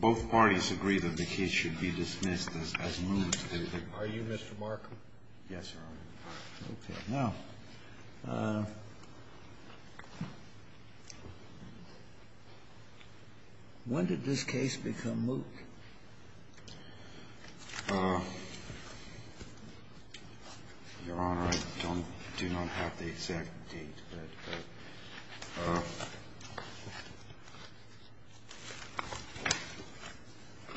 Both parties agree that the case should be dismissed as moot. Are you Mr. Markham? Yes, Your Honor. Okay. Now, when did this case become moot? Your Honor, I do not have the exact date, but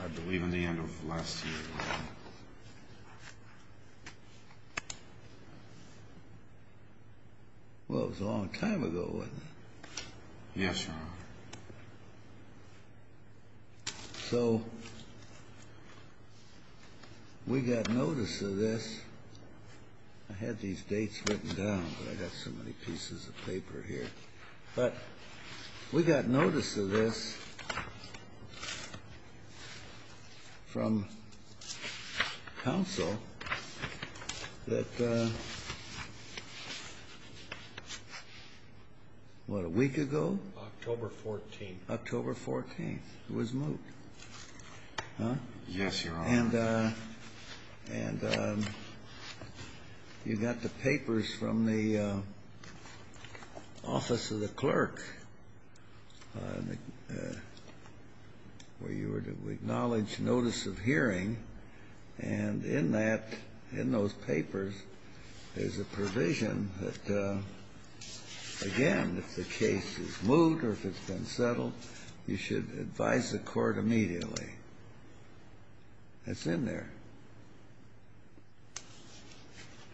I believe in the end of last year. Well, it was a long time ago, wasn't it? Yes, Your Honor. So we got notice of this. I had these dates written down, but I got so many pieces of paper here. But we got notice of this from counsel that, what, a week ago? October 14th. October 14th it was moot. Yes, Your Honor. And you got the papers from the office of the clerk where you were to acknowledge notice of hearing, and in that, in those papers, there's a provision that, again, if the case is moot or if it's been settled, you should advise the court immediately. It's in there.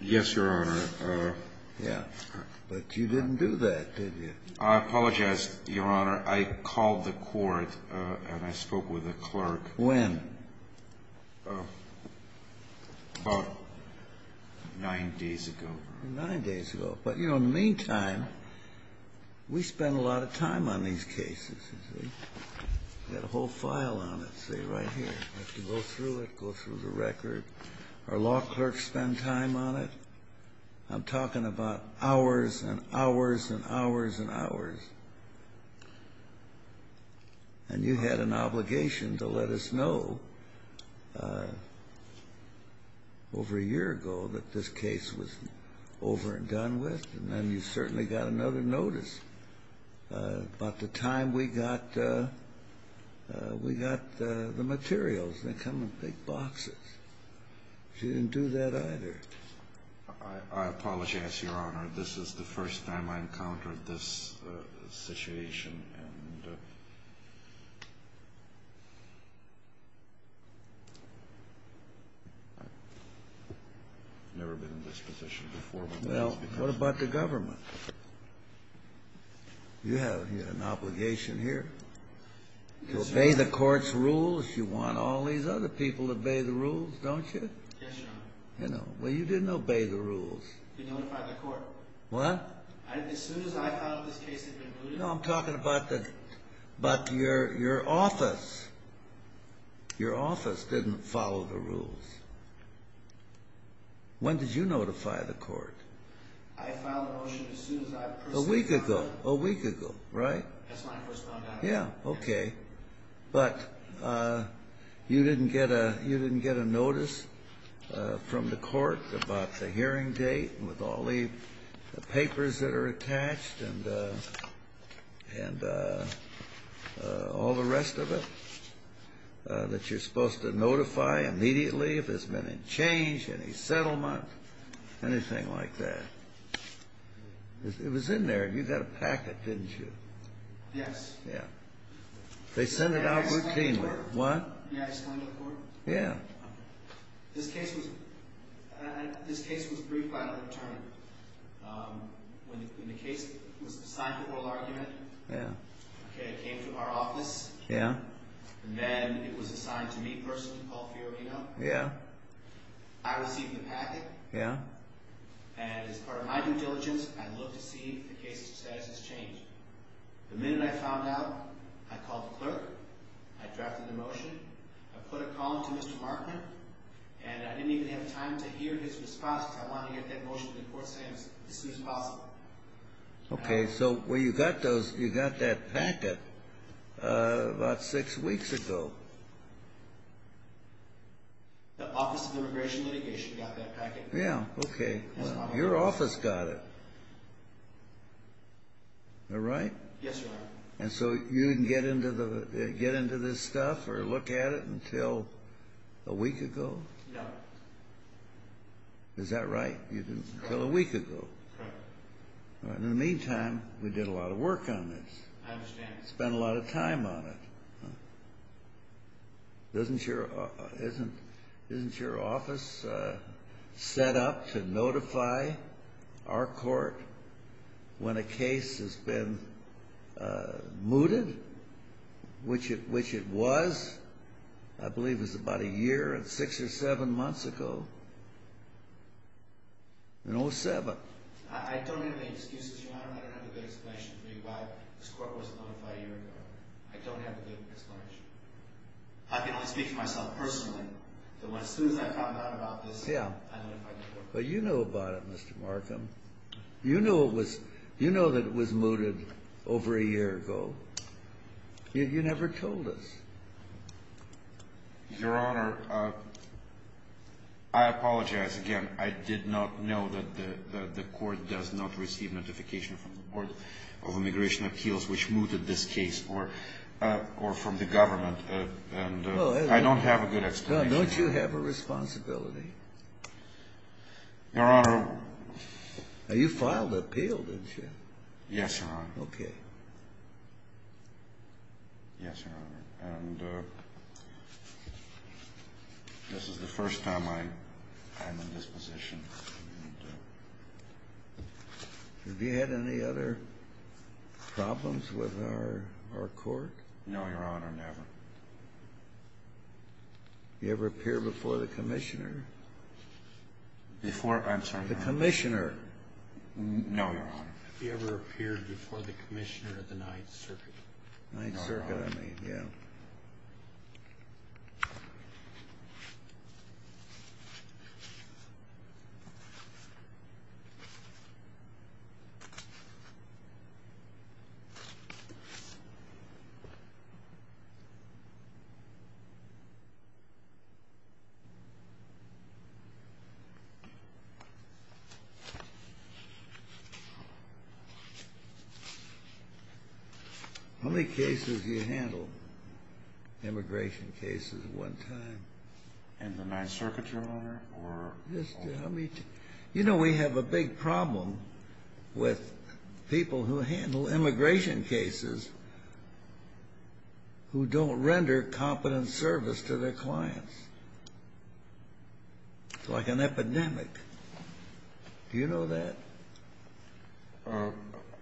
Yes, Your Honor. Yeah. But you didn't do that, did you? I apologize, Your Honor. I called the court, and I spoke with the clerk. When? About nine days ago. Nine days ago. But, you know, in the meantime, we spend a lot of time on these cases. We've got a whole file on it, see, right here. We have to go through it, go through the record. Our law clerks spend time on it. I'm talking about hours and hours and hours and hours. And you had an obligation to let us know over a year ago that this case was over and done with, and then you certainly got another notice about the time we got the materials. They come in big boxes. But you didn't do that either. I apologize, Your Honor. This is the first time I encountered this situation. And I've never been in this position before. Well, what about the government? You have an obligation here to obey the court's rules. You want all these other people to obey the rules, don't you? Yes, Your Honor. Well, you didn't obey the rules. You notified the court. What? As soon as I filed this case, it had been moved. No, I'm talking about your office. Your office didn't follow the rules. When did you notify the court? I filed the motion as soon as I personally filed it. A week ago. A week ago, right? That's when I first found out. Yeah, okay. But you didn't get a notice from the court about the hearing date with all the papers that are attached and all the rest of it that you're supposed to notify immediately if there's been a change, any settlement, anything like that. It was in there. You got a packet, didn't you? Yes. Yeah. They sent it out routinely. Did I explain it to the court? Did I explain it to the court? Yeah. This case was briefed by an attorney. When the case was assigned to oral argument, it came to our office. Yeah. And then it was assigned to me personally, Paul Fiorina. Yeah. I received the packet. Yeah. And as part of my due diligence, I looked to see if the case status has changed. The minute I found out, I called the clerk. I drafted the motion. I put a call in to Mr. Markner, and I didn't even have time to hear his response because I wanted to get that motion to the court as soon as possible. Okay. So you got that packet about six weeks ago. The Office of Immigration Litigation got that packet. Yeah. Okay. Your office got it. Am I right? Yes, Your Honor. And so you didn't get into this stuff or look at it until a week ago? No. Is that right? Until a week ago? Correct. In the meantime, we did a lot of work on this. I understand. Spent a lot of time on it. Isn't your office set up to notify our court when a case has been mooted, which it was, I believe it was about a year and six or seven months ago? In 07. I don't have any excuses, Your Honor. I don't have a good explanation for you why this court wasn't notified a year ago. I don't have a good explanation. I can only speak for myself personally. But as soon as I found out about this, I notified the court. But you know about it, Mr. Markham. You know that it was mooted over a year ago. You never told us. Your Honor, I apologize again. I did not know that the court does not receive notification from the Board of Immigration Appeals which mooted this case or from the government. And I don't have a good explanation. Don't you have a responsibility? Your Honor. You filed an appeal, didn't you? Yes, Your Honor. Okay. Yes, Your Honor. And this is the first time I'm in this position. Have you had any other problems with our court? No, Your Honor. Never. Have you ever appeared before the commissioner? Before? I'm sorry, Your Honor. The commissioner. No, Your Honor. Have you ever appeared before the commissioner at the Ninth Circuit? Ninth Circuit, I mean. No, Your Honor. Yeah. Okay. How many cases do you handle? Immigration cases at one time? In the Ninth Circuit, Your Honor? You know we have a big problem with people who handle immigration cases who don't render competent service to their clients. It's like an epidemic. Do you know that?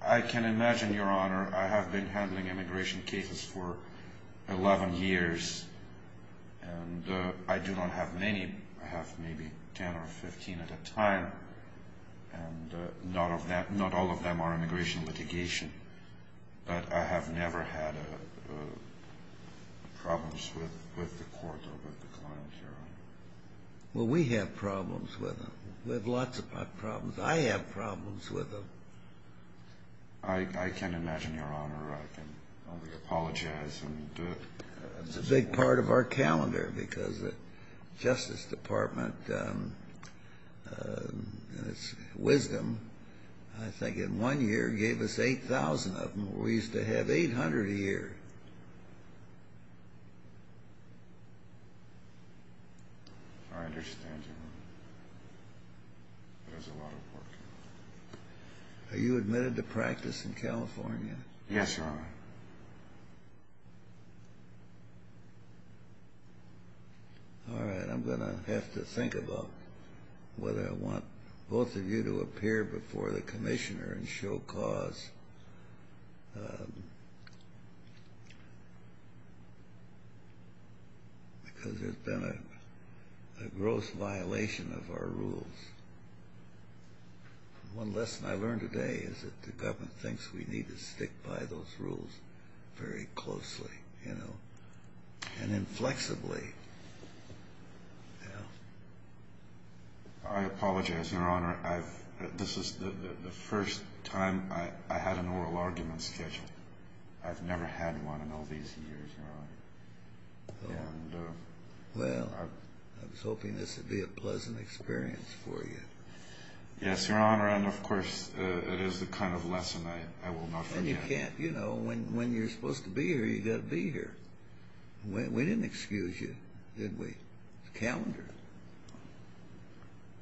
I can imagine, Your Honor. I have been handling immigration cases for 11 years. And I do not have many. I have maybe 10 or 15 at a time. And not all of them are immigration litigation. But I have never had problems with the court or with the client, Your Honor. Well, we have problems with them. We have lots of problems. I have problems with them. I can imagine, Your Honor. I can only apologize. It's a big part of our calendar because the Justice Department, in its wisdom, I think in one year gave us 8,000 of them. We used to have 800 a year. I understand, Your Honor. That's a lot of work. Are you admitted to practice in California? Yes, Your Honor. All right. I'm going to have to think about whether I want both of you to appear before the Commissioner and show cause because there's been a gross violation of our rules. One lesson I've learned today is that the government thinks we need to stick by those rules very closely and inflexibly. I apologize, Your Honor. This is the first time I had an oral argument scheduled. I've never had one in all these years, Your Honor. Well, I was hoping this would be a pleasant experience for you. Yes, Your Honor. And, of course, it is the kind of lesson I will not forget. You know, when you're supposed to be here, you've got to be here. We didn't excuse you, did we? It's a calendar.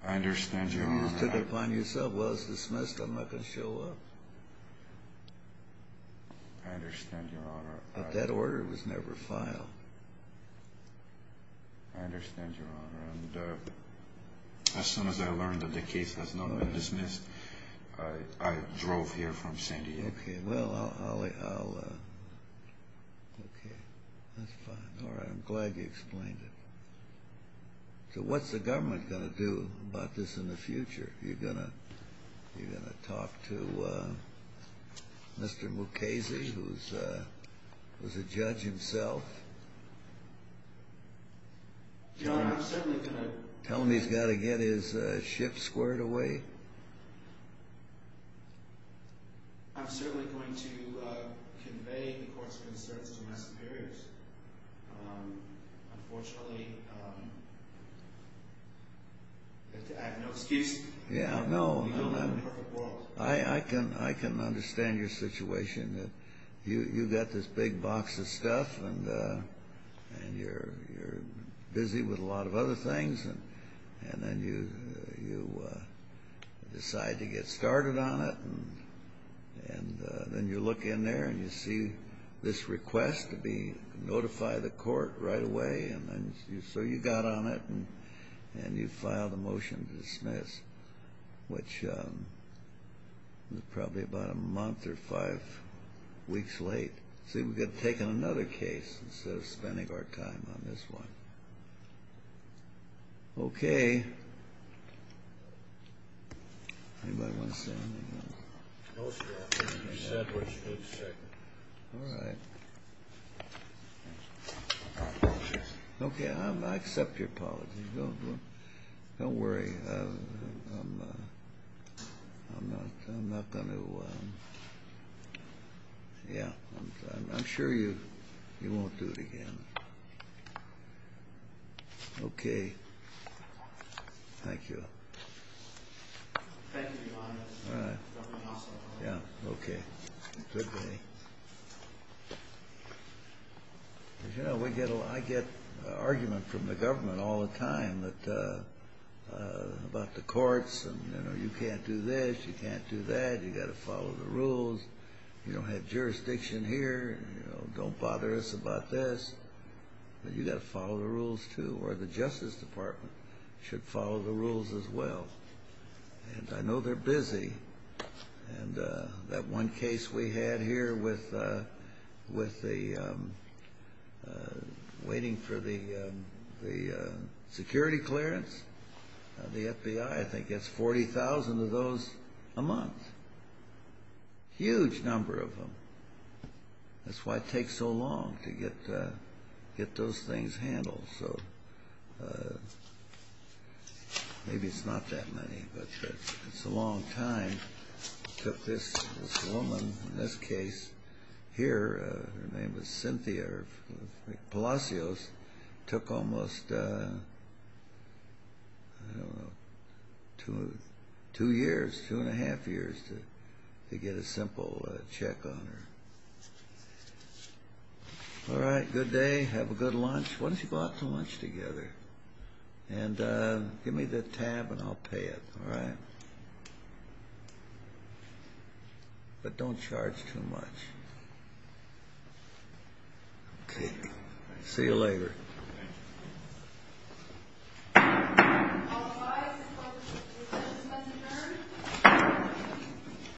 I understand, Your Honor. You just took it upon yourself. Well, it's dismissed. I'm not going to show up. I understand, Your Honor. But that order was never filed. I understand, Your Honor. And as soon as I learned that the case has now been dismissed, I drove here from San Diego. Okay, well, I'll... Okay, that's fine. All right, I'm glad you explained it. So what's the government going to do about this in the future? Are you going to talk to Mr. Mukasey, who's a judge himself? Your Honor, I'm certainly going to... Tell him he's got to get his shift squared away? I'm certainly going to convey the court's concerns to my superiors. Unfortunately, I have no excuse. Yeah, no. We don't live in a perfect world. I can understand your situation. You've got this big box of stuff, and you're busy with a lot of other things, and then you decide to get started on it, and then you look in there and you see this request to notify the court right away, and so you got on it, and you filed a motion to dismiss, which was probably about a month or five weeks late. See, we could have taken another case instead of spending our time on this one. Okay. Anybody want to say anything else? No, sir. You said what you did, sir. All right. Okay, I accept your apologies. Don't worry. I'm not going to... Yeah, I'm sure you won't do it again. Okay. Thank you. Thank you, Your Honor. All right. Yeah, okay. Good day. You know, I get argument from the government all the time about the courts, and, you know, you can't do this, you can't do that, you've got to follow the rules, you don't have jurisdiction here, don't bother us about this, but you've got to follow the rules too, or the Justice Department should follow the rules as well. And I know they're busy. And that one case we had here with the waiting for the security clearance, the FBI I think gets 40,000 of those a month. Huge number of them. That's why it takes so long to get those things handled. So maybe it's not that many, but it's a long time. Took this woman in this case here, her name was Cynthia Palacios, took almost, I don't know, two years, two and a half years to get a simple check on her. All right, good day. Have a good lunch. Why don't you go out to lunch together? And give me the tab and I'll pay it, all right? But don't charge too much. Okay, see you later.